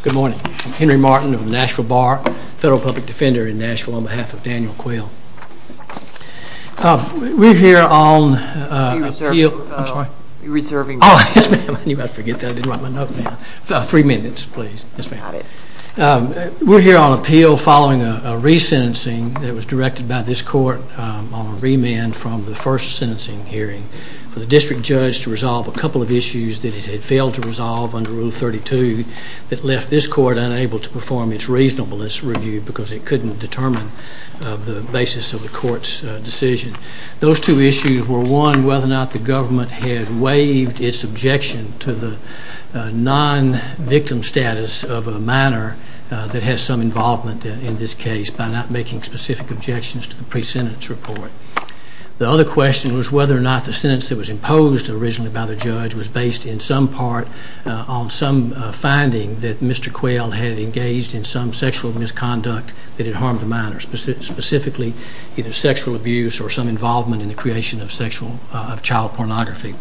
Good morning, Henry Martin of the Nashville Bar, Federal Public Defender in Nashville on behalf of Daniel Quail. We're here on appeal following a re-sentencing that was directed by this court on remand from the first sentencing hearing for the district judge to resolve a couple of issues that it had failed to resolve under Rule 32 that left this court unable to perform its reasonable review because it couldn't determine the basis of the court's decision. Those two issues were one, whether or not the government had waived its objection to the non-victim status of a minor that has some involvement in this case by not making specific objections to the pre-sentence report. The other question was whether or not the sentence that was imposed originally by the sexual misconduct that had harmed a minor, specifically either sexual abuse or some involvement in the creation of child pornography.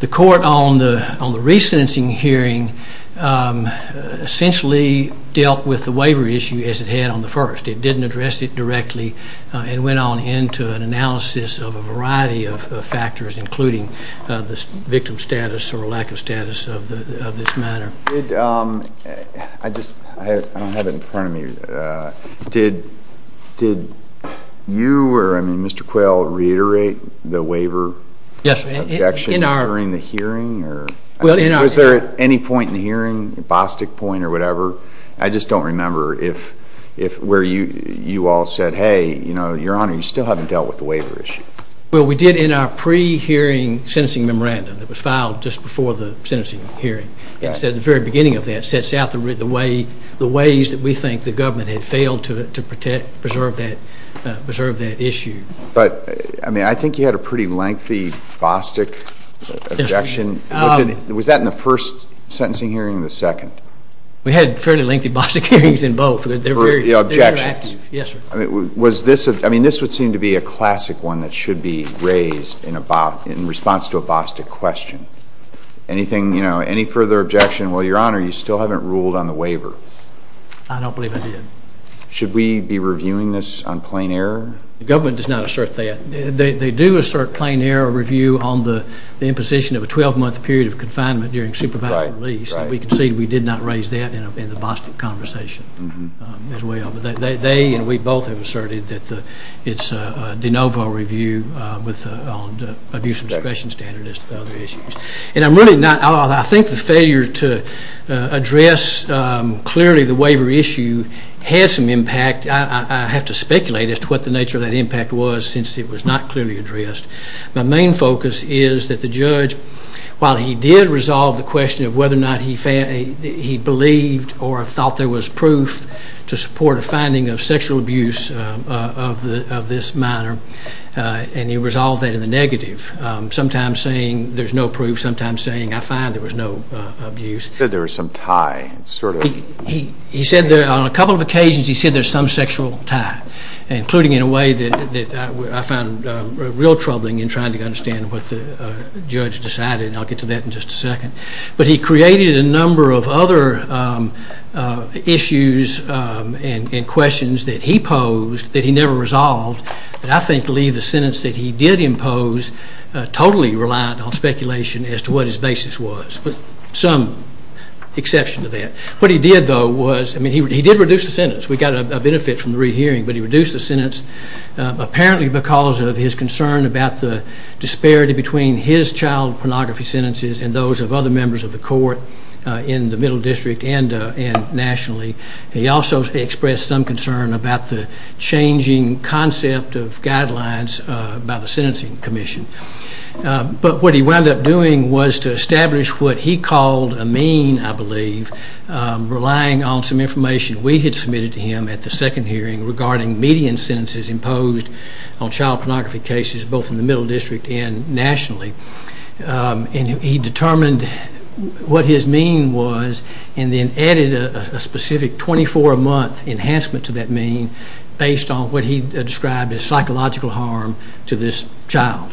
The court on the re-sentencing hearing essentially dealt with the waivery issue as it had on the first. It didn't address it directly. It went on into an analysis of a variety of factors, including the victim status or lack of status of this minor. I don't have it in front of me. Did you or Mr. Quayle reiterate the waiver objection during the hearing? Was there any point in the hearing, a Bostick point or whatever, I just don't remember where you all said, hey, Your Honor, you still haven't dealt with the waiver issue. Well, we did in our pre-hearing sentencing memorandum that was filed just before the very beginning of that. It sets out the ways that we think the government had failed to preserve that issue. But I mean, I think you had a pretty lengthy Bostick objection. Was that in the first sentencing hearing or the second? We had fairly lengthy Bostick hearings in both. They're very active. The objection. Yes, sir. I mean, this would seem to be a classic one that should be raised in response to a Bostick question. Any further objection? Well, Your Honor, you still haven't ruled on the waiver. I don't believe I did. Should we be reviewing this on plain error? The government does not assert that. They do assert plain error review on the imposition of a 12-month period of confinement during supervised release. We concede we did not raise that in the Bostick conversation as well. They and we both have asserted that it's a de novo review on the abuse of discretion standard as to other issues. And I'm really not. I think the failure to address clearly the waiver issue had some impact. I have to speculate as to what the nature of that impact was since it was not clearly addressed. My main focus is that the judge, while he did resolve the question of whether or not he believed or thought there was proof to support a finding of sexual abuse of this minor, and he resolved that in the negative, sometimes saying there's no proof, sometimes saying I find there was no abuse. He said there was some tie. He said there on a couple of occasions he said there's some sexual tie, including in a way that I found real troubling in trying to understand what the judge decided, and I'll get to that in just a second. But he created a number of other issues and questions that he posed that he never resolved that I think leave the sentence that he did impose totally reliant on speculation as to what his basis was, with some exception to that. What he did, though, was he did reduce the sentence. We got a benefit from the re-hearing, but he reduced the sentence apparently because of his concern about the disparity between his child pornography sentences and those of other members of the court in the Middle District and nationally. He also expressed some concern about the changing concept of guidelines by the Sentencing Commission. But what he wound up doing was to establish what he called a mean, I believe, relying on some information we had submitted to him at the second hearing regarding median sentences imposed on child pornography cases, both in the Middle District and nationally, and he determined what his mean was and then added a specific 24-month enhancement to that mean based on what he described as psychological harm to this child.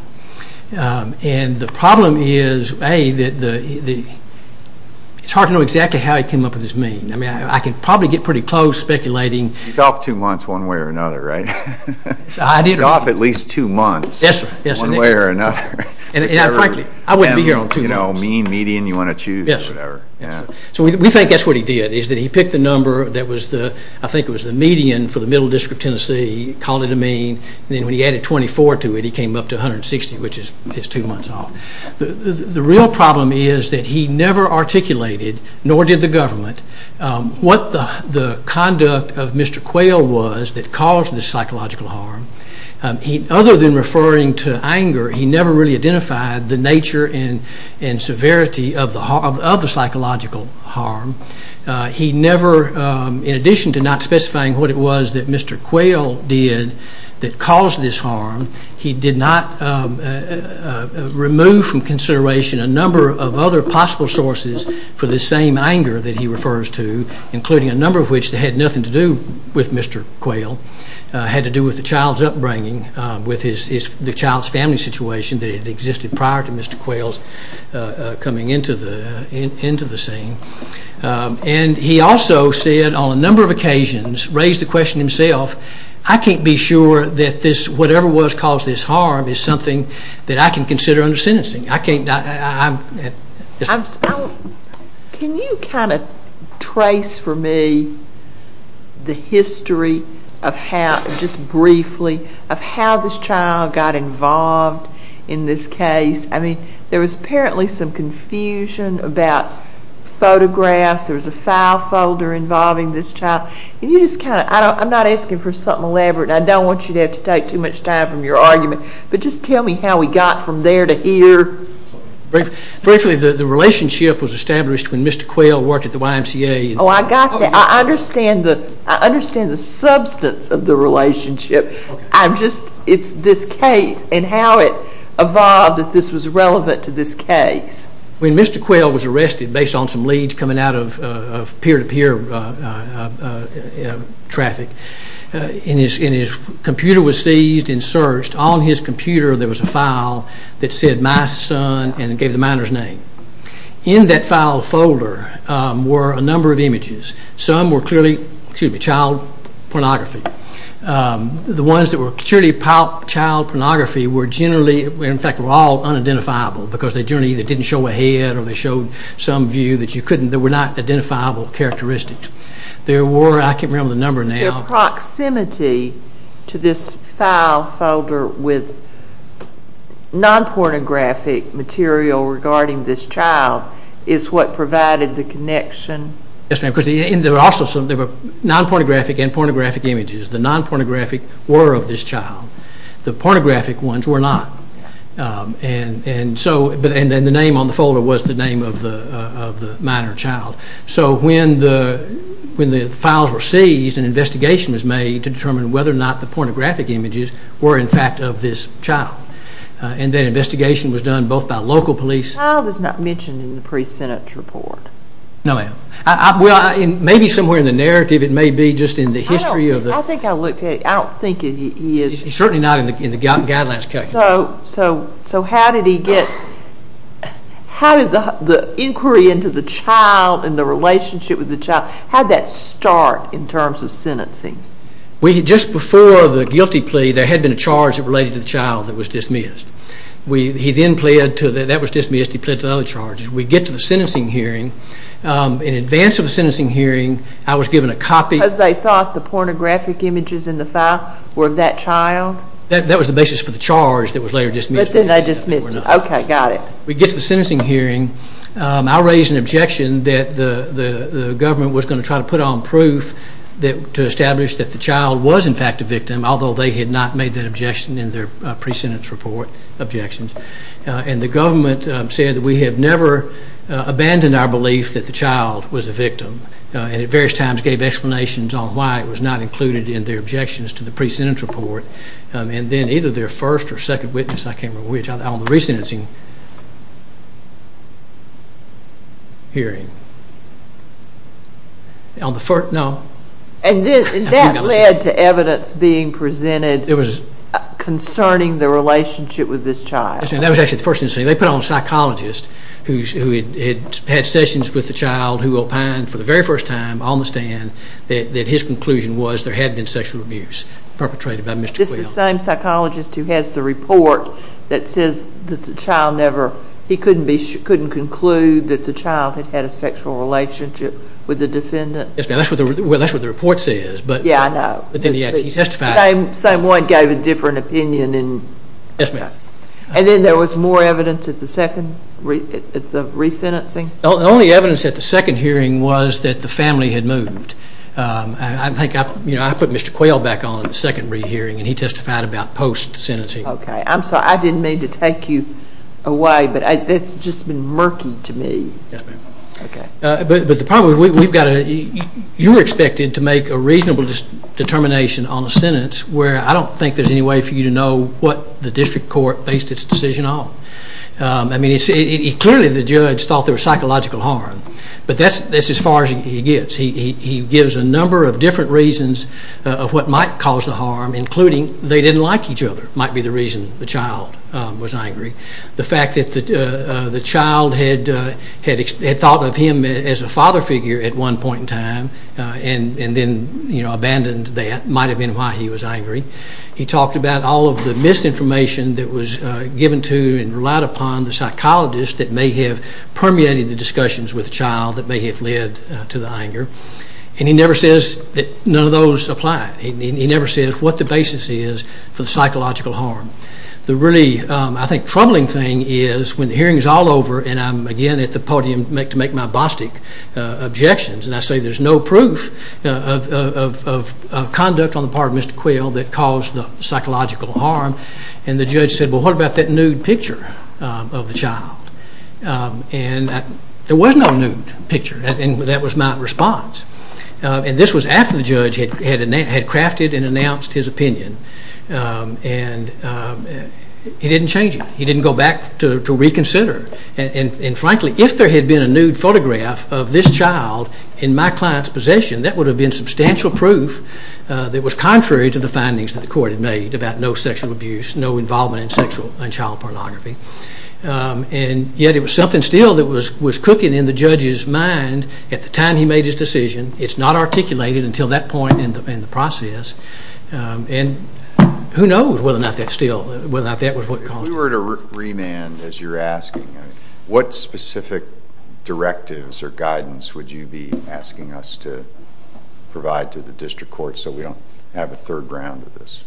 And the problem is, A, it's hard to know exactly how he came up with this mean. I mean, I could probably get pretty close speculating. He's off two months one way or another, right? And frankly, I wouldn't be here on two months. You know, mean, median, you want to choose, or whatever. So we think that's what he did, is that he picked the number that was the, I think it was the median for the Middle District of Tennessee, called it a mean, and then when he added 24 to it, he came up to 160, which is two months off. The real problem is that he never articulated, nor did the government, what the conduct of Mr. Quayle was that caused the psychological harm. Other than referring to anger, he never really identified the nature and severity of the psychological harm. He never, in addition to not specifying what it was that Mr. Quayle did that caused this harm, he did not remove from consideration a number of other possible sources for this same anger that he refers to, including a number of which that had nothing to do with his upbringing, with the child's family situation, that had existed prior to Mr. Quayle's coming into the scene. And he also said on a number of occasions, raised the question himself, I can't be sure that this, whatever was caused this harm, is something that I can consider under sentencing. I can't, I'm... Can you kind of trace for me the history of how, just briefly, of how this child got involved in this case? I mean, there was apparently some confusion about photographs, there was a file folder involving this child. Can you just kind of, I'm not asking for something elaborate, and I don't want you to have to take too much time from your argument, but just tell me how we got from there to here. Briefly, the relationship was established when Mr. Quayle worked at the YMCA. Oh, I got that. I understand the substance of the relationship. I'm just, it's this case and how it evolved that this was relevant to this case. When Mr. Quayle was arrested, based on some leads coming out of peer-to-peer traffic, and his computer was seized and searched. On his computer, there was a file that said, my son, and it gave the minor's name. In that file folder were a number of images. Some were clearly, excuse me, child pornography. The ones that were purely child pornography were generally, in fact, were all unidentifiable, because they generally either didn't show a head or they showed some view that you couldn't, that were not identifiable characteristics. There were, I can't remember the number now. The proximity to this file folder with non-pornographic material regarding this child is what provided the connection. Yes, ma'am, because there were also some, there were non-pornographic and pornographic images. The non-pornographic were of this child. The pornographic ones were not. And so, and then the name on the folder was the name of the minor child. So when the files were seized, an investigation was made to determine whether or not the pornographic images were, in fact, of this child. And that investigation was done both by local police... The child is not mentioned in the pre-Senate report. No, ma'am. Well, maybe somewhere in the narrative. It may be just in the history of the... I don't think I looked at it. I don't think he is. He's certainly not in the guidelines. So how did he get, how did the inquiry into the child and the relationship with the child, how did that start in terms of sentencing? Just before the guilty plea, there had been a charge related to the child that was dismissed. He then pled to, that was dismissed, he pled to other charges. We get to the sentencing hearing. In advance of the sentencing hearing, I was given a copy... Because they thought the pornographic images in the file were of that child? That was the basis for the charge that was later dismissed. But then they dismissed it. Okay, got it. We get to the sentencing hearing. I raised an objection that the government was going to try to put on proof to establish that the child was, in fact, a victim, although they had not made that objection in their pre-sentence report objections. And the government said that we have never abandoned our belief that the child was a victim. And at various times gave explanations on why it was not included in their objections to the pre-sentence report. And then either their first or second witness, I can't remember which, on the re-sentencing... hearing. On the first, no. And that led to evidence being presented concerning the relationship with this child? That was actually the first sentencing. They put on a psychologist who had had sessions with the child who opined for the very first time on the stand that his conclusion was that there had been sexual abuse perpetrated by Mr. Quill. Just the same psychologist who has the report that says that the child never... he couldn't conclude that the child had had a sexual relationship with the defendant? Yes, ma'am. Well, that's what the report says. Yeah, I know. But then he testified... The same one gave a different opinion. Yes, ma'am. And then there was more evidence at the second, at the re-sentencing? The only evidence at the second hearing was that the family had moved. I think I put Mr. Quill back on at the second re-hearing and he testified about post-sentencing. Okay. I'm sorry. I didn't mean to take you away, but that's just been murky to me. Yes, ma'am. Okay. But the problem is we've got to... You were expected to make a reasonable determination on a sentence where I don't think there's any way for you to know what the district court based its decision on. I mean, clearly the judge thought there was psychological harm. But that's as far as he gets. He gives a number of different reasons of what might cause the harm, including they didn't like each other might be the reason the child was angry. The fact that the child had thought of him as a father figure at one point in time and then abandoned that might have been why he was angry. He talked about all of the misinformation that was given to and relied upon the psychologist that may have permeated the discussions with the child that may have led to the anger. And he never says that none of those apply. He never says what the basis is for the psychological harm. The really, I think, troubling thing is when the hearing is all over and I'm, again, at the podium to make my Bostic objections, and I say there's no proof of conduct on the part of Mr. Quill that caused the psychological harm, and the judge said, well, what about that nude picture of the child? And there was no nude picture, and that was my response. And this was after the judge had crafted and announced his opinion. And he didn't change it. He didn't go back to reconsider. And frankly, if there had been a nude photograph of this child in my client's possession, that would have been substantial proof that was contrary to the findings that the court had made about no sexual abuse, no involvement in sexual and child pornography. And yet it was something still that was cooking in the judge's mind at the time he made his decision. It's not articulated until that point in the process. And who knows whether or not that still, whether or not that was what caused it. If we were to remand, as you're asking, what specific directives or guidance would you be asking us to provide to the district court so we don't have a third round of this?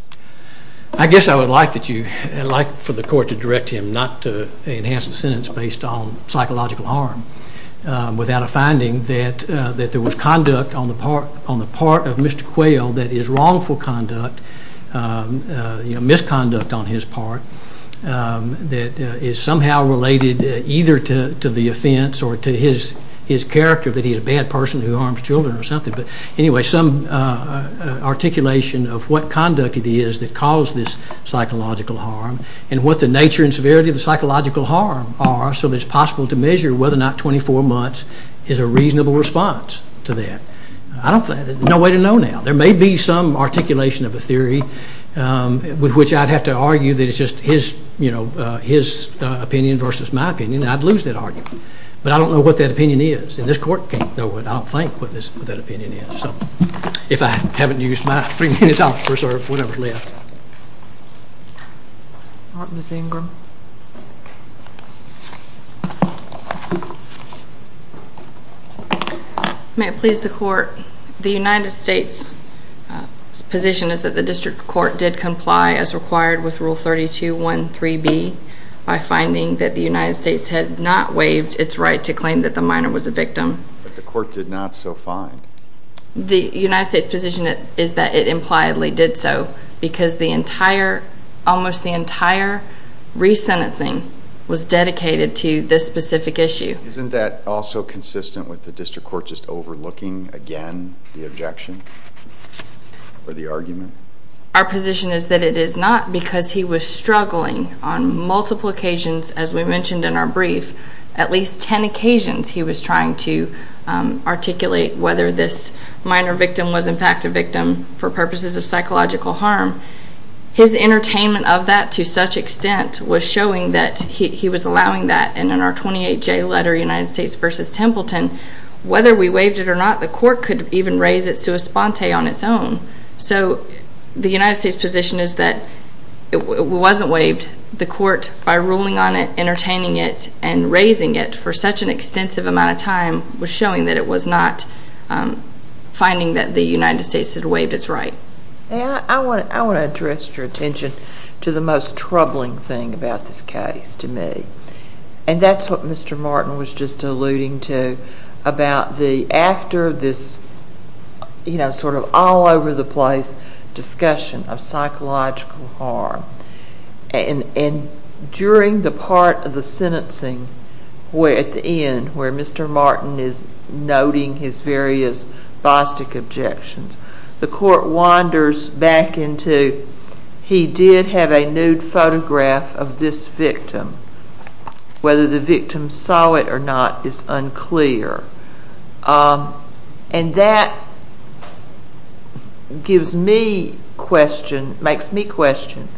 I guess I would like for the court to direct him not to enhance the sentence based on psychological harm without a finding that there was conduct on the part of Mr. Quayle that is wrongful conduct, misconduct on his part, that is somehow related either to the offense or to his character, some articulation of what conduct it is that caused this psychological harm and what the nature and severity of the psychological harm are so that it's possible to measure whether or not 24 months is a reasonable response to that. There's no way to know now. There may be some articulation of a theory with which I'd have to argue that it's just his opinion versus my opinion and I'd lose that argument. But I don't know what that opinion is. And this court can't know what I think what that opinion is. So if I haven't used my three minutes, I'll preserve whatever's left. May it please the court, the United States' position is that the district court did comply as required with Rule 32.1.3.B by finding that the United States has not waived its right to claim that the minor was a victim. But the court did not so find. The United States' position is that it impliedly did so because almost the entire resentencing was dedicated to this specific issue. Isn't that also consistent with the district court just overlooking again the objection or the argument? Our position is that it is not because he was struggling on multiple occasions, as we mentioned in our brief, at least 10 occasions he was trying to articulate whether this minor victim was in fact a victim for purposes of psychological harm. His entertainment of that to such extent was showing that he was allowing that. And in our 28J letter, United States v. Templeton, whether we waived it or not, the court could even raise it sua sponte on its own. So the United States' position is that it wasn't waived. The court, by ruling on it, entertaining it, and raising it for such an extensive amount of time, was showing that it was not finding that the United States had waived its right. I want to address your attention to the most troubling thing about this case to me. And that's what Mr. Martin was just alluding to about the after this sort of all-over-the-place discussion of psychological harm. And during the part of the sentencing at the end, where Mr. Martin is noting his various Bostick objections, the court wanders back into he did have a nude photograph of this victim. Whether the victim saw it or not is unclear. And that gives me question, makes me question,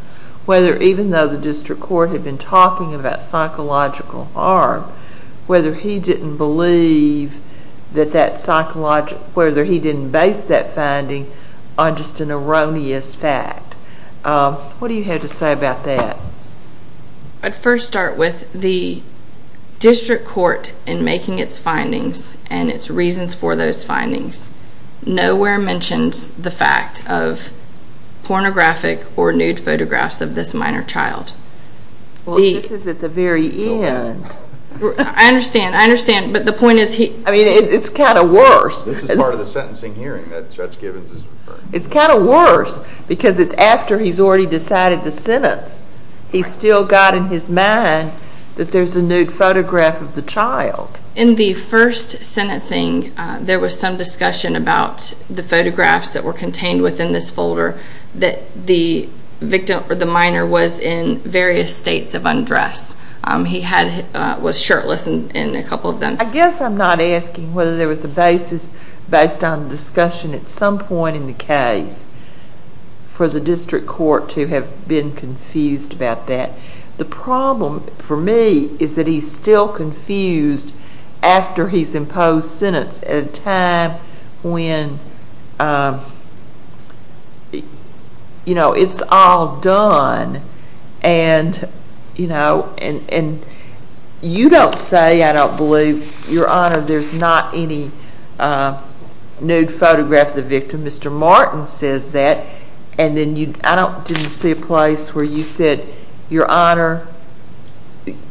whether even though the district court had been talking about psychological harm, whether he didn't believe that that psychological, whether he didn't base that finding on just an erroneous fact. What do you have to say about that? I'd first start with the district court in making its findings and its reasons for those findings. Nowhere mentions the fact of pornographic or nude photographs of this minor child. Well, this is at the very end. I understand, I understand. But the point is he, I mean, it's kind of worse. This is part of the sentencing hearing that Judge Gibbons is referring to. It's kind of worse because it's after he's already decided the sentence. He's still got in his mind that there's a nude photograph of the child. In the first sentencing, there was some discussion about the photographs that were contained within this folder that the minor was in various states of undress. He was shirtless in a couple of them. I guess I'm not asking whether there was a basis based on the discussion at some point in the case for the district court to have been confused about that. The problem for me is that he's still confused after he's imposed sentence at a time when it's all done. And you don't say, I don't believe, Your Honor, there's not any nude photograph of the victim. Mr. Martin says that. And then I didn't see a place where you said, Your Honor,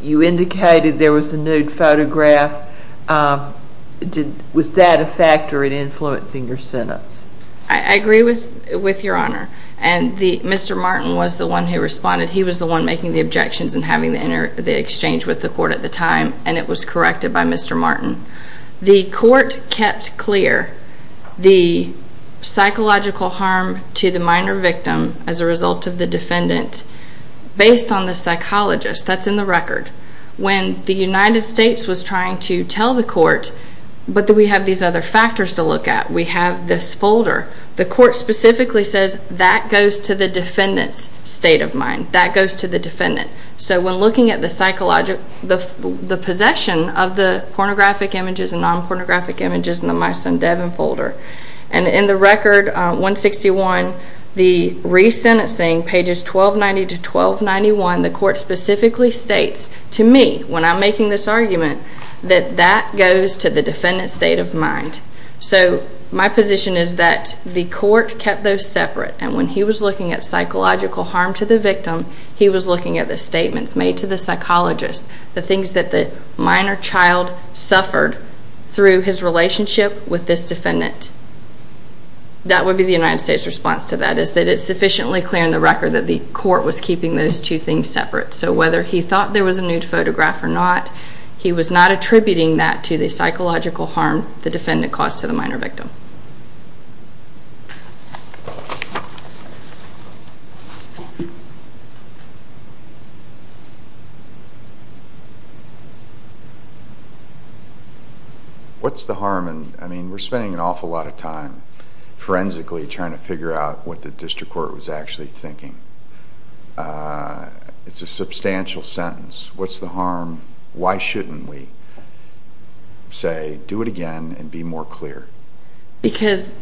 you indicated there was a nude photograph. Was that a factor in influencing your sentence? I agree with Your Honor. And Mr. Martin was the one who responded. He was the one making the objections and having the exchange with the court at the time. And it was corrected by Mr. Martin. The court kept clear the psychological harm to the minor victim as a result of the defendant based on the psychologist. That's in the record. When the United States was trying to tell the court, but we have these other factors to look at. We have this folder. The court specifically says that goes to the defendant's state of mind. That goes to the defendant. So when looking at the psychological, the possession of the pornographic images and non-pornographic images in the My Son Devin folder. And in the record 161, the re-sentencing pages 1290 to 1291, the court specifically states to me when I'm making this argument that that goes to the defendant's state of mind. So my position is that the court kept those separate. And when he was looking at psychological harm to the victim, he was looking at the statements made to the psychologist, the things that the minor child suffered through his relationship with this defendant. That would be the United States response to that is that it's sufficiently clear in the record that the court was keeping those two things separate. So whether he thought there was a nude photograph or not, he was not attributing that to the psychological harm the defendant caused to the minor victim. What's the harm in... I mean, we're spending an awful lot of time, forensically trying to figure out what the district court was actually thinking. It's a substantial sentence. What's the harm? Why shouldn't we say, do it again and be more clear? Because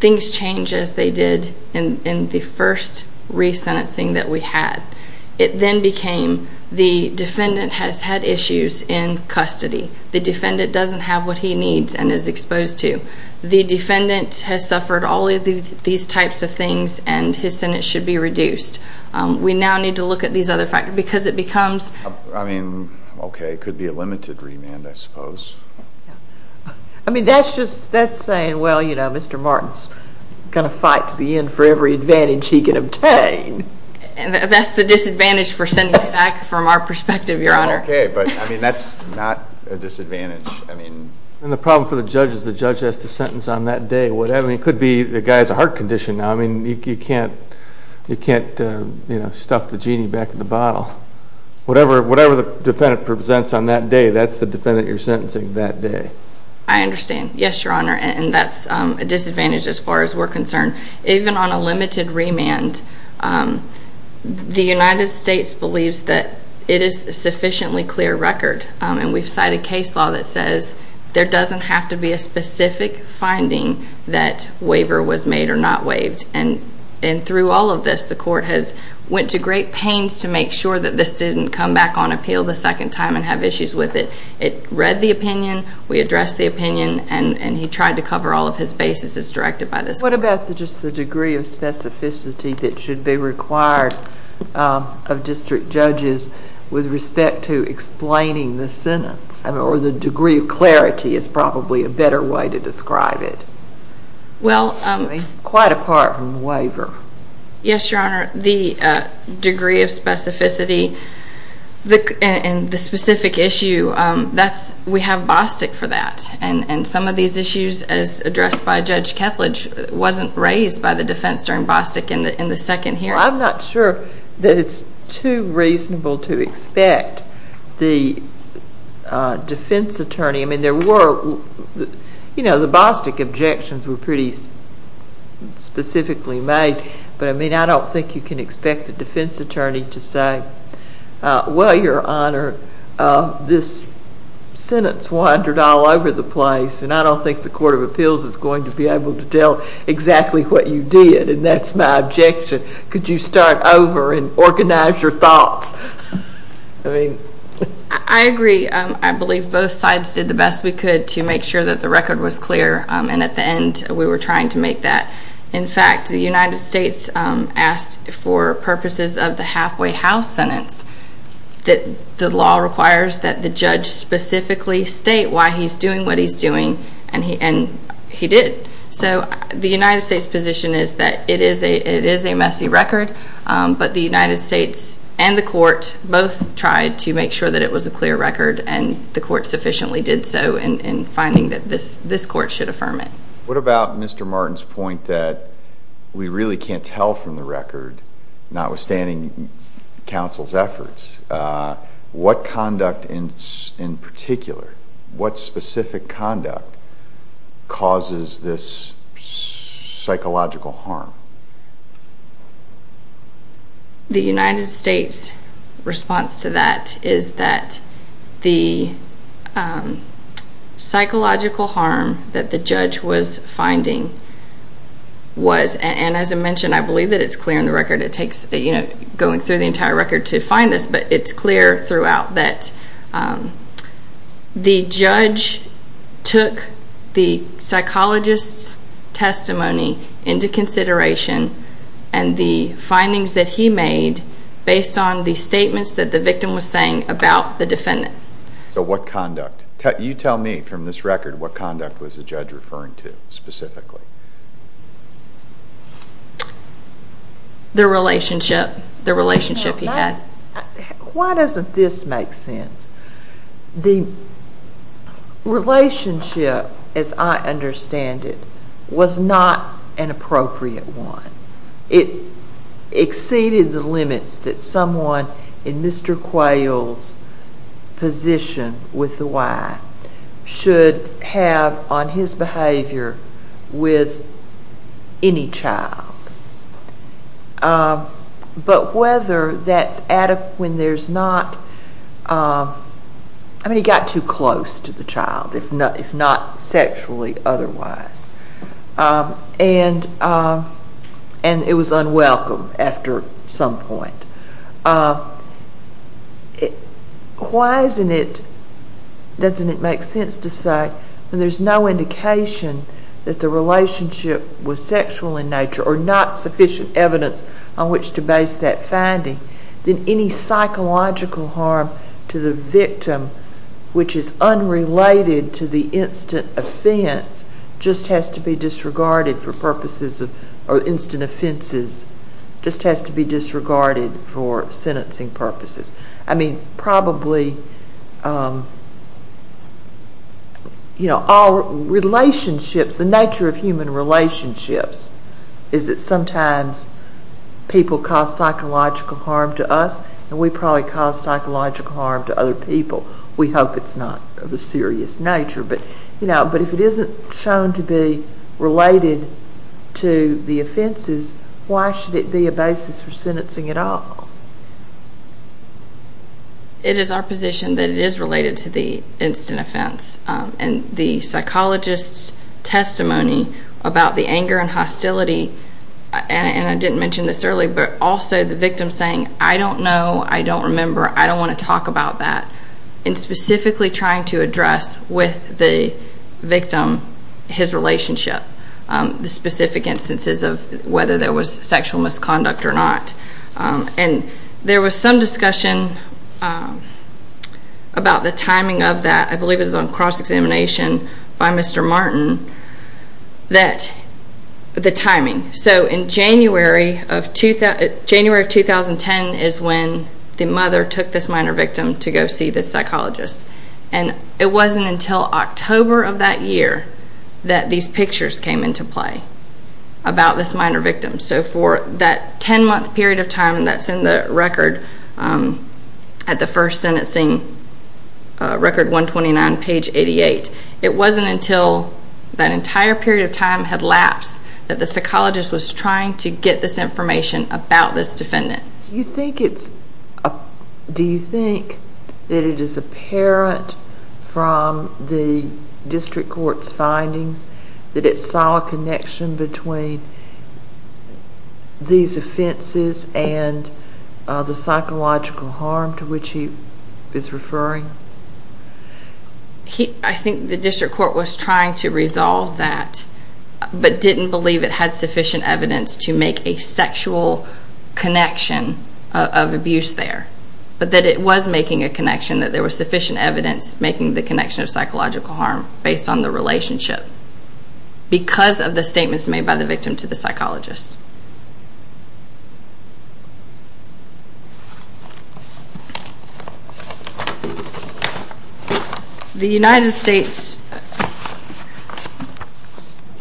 things change as they did in the first re-sentencing that we had. It then became the defendant has had issues in custody. The defendant doesn't have what he needs and is exposed to. The defendant has suffered all of these types of things and his sentence should be reduced. We now need to look at these other factors because it becomes... I mean, okay, it could be a limited remand, I suppose. I mean, that's just, that's saying, well, you know, Mr. Martin's going to fight to the end for every advantage he can obtain. That's the disadvantage for sending it back from our perspective, Your Honor. Okay, but I mean, that's not a disadvantage. I mean... And the problem for the judge is the judge has to sentence on that day. I mean, it could be the guy's a heart condition now. I mean, you can't, you can't, you know, stuff the genie back in the bottle. Whatever the defendant presents on that day, that's the defendant you're sentencing that day. I understand. Yes, Your Honor, and that's a disadvantage as far as we're concerned. Even on a limited remand, the United States believes that it is a sufficiently clear record. And we've cited case law that says there doesn't have to be a specific finding that waiver was made or not waived. And through all of this, the court has went to great pains to make sure that this didn't come back on appeal the second time and have issues with it. It read the opinion, we addressed the opinion, and he tried to cover all of his bases as directed by this court. What about just the degree of specificity that should be required of district judges with respect to explaining the sentence? I mean, or the degree of clarity is probably a better way to describe it. Well... I mean, quite apart from the waiver. Yes, Your Honor, the degree of specificity and the specific issue, that's, we have Bostick for that. And some of these issues, as addressed by Judge Kethledge, wasn't raised by the defense during Bostick in the second hearing. I'm not sure that it's too reasonable to expect the defense attorney... I mean, there were, you know, the Bostick objections were pretty specifically made, but I mean, I don't think you can expect the defense attorney to say, well, Your Honor, this sentence wandered all over the place, and I don't think the Court of Appeals is going to be able to tell exactly what you did, and that's my objection. Could you start over and organize your thoughts? I mean... I agree. I believe both sides did the best we could to make sure that the record was clear, and at the end, we were trying to make that. In fact, the United States asked for purposes of the halfway house sentence that the law requires that the judge specifically state why he's doing what he's doing, and he did. So the United States' position is that it is a messy record, but the United States and the court both tried to make sure that it was a clear record, and the court sufficiently did so in finding that this court should affirm it. What about Mr. Martin's point that we really can't tell from the record, notwithstanding counsel's efforts, what conduct in particular, what specific conduct, causes this psychological harm? The United States' response to that is that the psychological harm that the judge was finding was... and as I mentioned, I believe that it's clear in the record. It takes, you know, going through the entire record to find this, but it's clear throughout that the judge took the psychologist's testimony into consideration and the findings that he made based on the statements that the victim was saying about the defendant. So what conduct? You tell me, from this record, what conduct was the judge referring to specifically? The relationship. The relationship he had. Why doesn't this make sense? The relationship, as I understand it, was not an appropriate one. It exceeded the limits that someone in Mr. Quayle's position with the Y should have on his behavior with any child. But whether that's when there's not... I mean, he got too close to the child if not sexually otherwise. And it was unwelcome after some point. Why isn't it... doesn't it make sense to say that there's no indication that the relationship was sexual in nature or not sufficient evidence on which to base that finding? Then any psychological harm to the victim which is unrelated to the instant offense just has to be disregarded for purposes of... or instant offenses just has to be disregarded for sentencing purposes. I mean, probably... The nature of human relationships is that sometimes people cause psychological harm to us and we probably cause psychological harm to other people. We hope it's not of a serious nature. But if it isn't shown to be related to the offenses, why should it be a basis for sentencing at all? It is our position that it is related to the instant offense. The psychologist's testimony about the anger and hostility and I didn't mention this early but also the victim saying, I don't know, I don't remember, I don't want to talk about that and specifically trying to address with the victim his relationship. The specific instances of whether there was sexual misconduct or not. There was some discussion about the timing of that. I believe it was on cross-examination by Mr. Martin that the timing. So in January of 2010 is when the mother took this minor victim to go see the psychologist and it wasn't until October of that year that these pictures came into play about this minor victim. So for that 10 month period of time that's in the record at the first sentencing record 129 page 88 it wasn't until that entire period of time had lapsed that the psychologist was trying to get this information about this defendant. Do you think that it is apparent from the between these offenses and the psychological harm to which he is referring? I think the district court was trying to resolve that but didn't believe it had sufficient evidence to make a sexual connection of abuse there. But that it was making a connection that there was sufficient evidence making the connection of psychological harm based on the relationship. Because of the statements made by the victim to the psychologist. The United States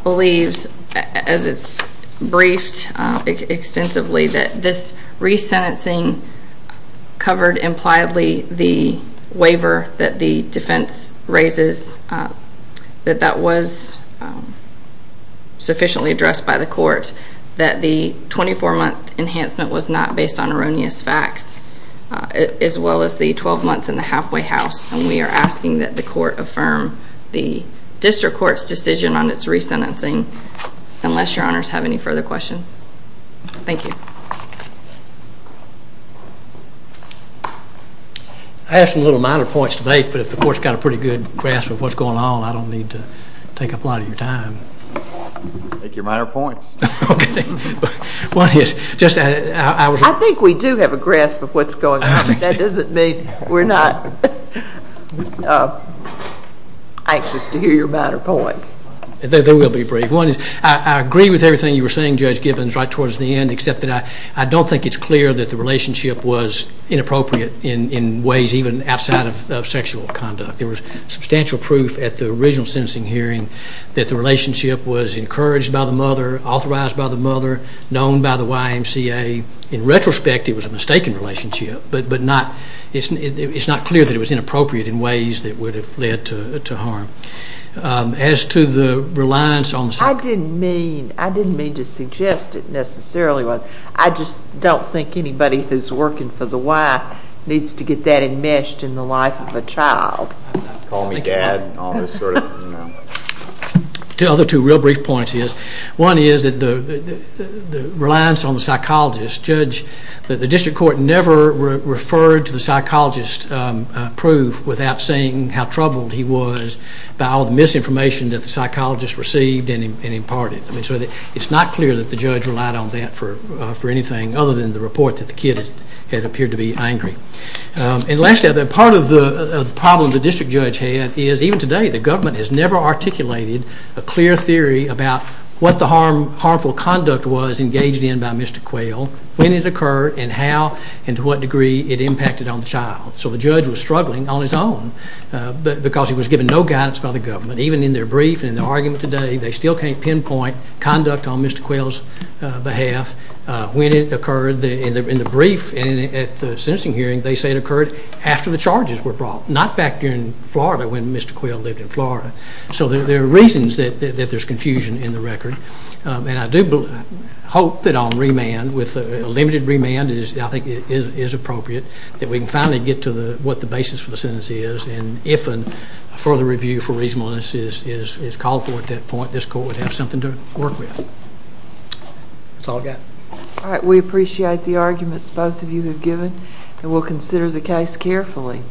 believes as it's briefed extensively that this resentencing covered impliedly the waiver that the defense raises that that was sufficiently addressed by the court that the 24 month enhancement was not based on erroneous facts as well as the 12 months in the halfway house and we are asking that the court affirm the district court's decision on its resentencing unless your honors have any further questions. Thank you. I have some minor points to make but if the court's got a pretty good grasp of what's going on I don't need to take up a lot of your time. Make your minor points. I think we do have a grasp of what's going on but that doesn't mean we're not anxious to hear your minor points. I agree with everything you were saying Judge Gibbons right towards the end except that I don't think it's clear that the relationship was inappropriate in ways even outside of sexual conduct. There was substantial proof at the original sentencing hearing that the relationship was encouraged by the mother, authorized by the mother, known by the YMCA. In retrospect it was a mistaken relationship but it's not clear that it was inappropriate in ways that would have led to harm. As to the reliance on the I didn't mean to suggest it necessarily I just don't think anybody who's working for the Y needs to get that enmeshed in the life of a child. Call me dad. Two other real brief points One is the reliance on the psychologist. Judge, the district court never referred to the psychologist's proof without saying how troubled he was by all the misinformation that the psychologist received and imparted. It's not clear that the judge relied on that for anything other than the report that the kid had appeared to be angry. And lastly, part of the problem the district judge had is even today the government has never articulated a clear theory about what the harmful conduct was engaged in by Mr. Quayle when it occurred and how and to what degree it impacted on the child. So the judge was struggling on his own because he was given no guidance by the government even in their brief and in their argument today they still can't pinpoint conduct on Mr. Quayle's behalf when it occurred in the brief and at the sentencing hearing they say it occurred after the charges were brought not back during Florida when Mr. Quayle lived in Florida. So there are reasons that there's confusion in the record and I do hope that on remand with a limited remand I think is appropriate that we can finally get to what the basis for the sentence is and if a further review for reasonableness is called for at that point this court would have something to work with. That's all I've got. We appreciate the arguments both of you have given and we'll consider the case carefully.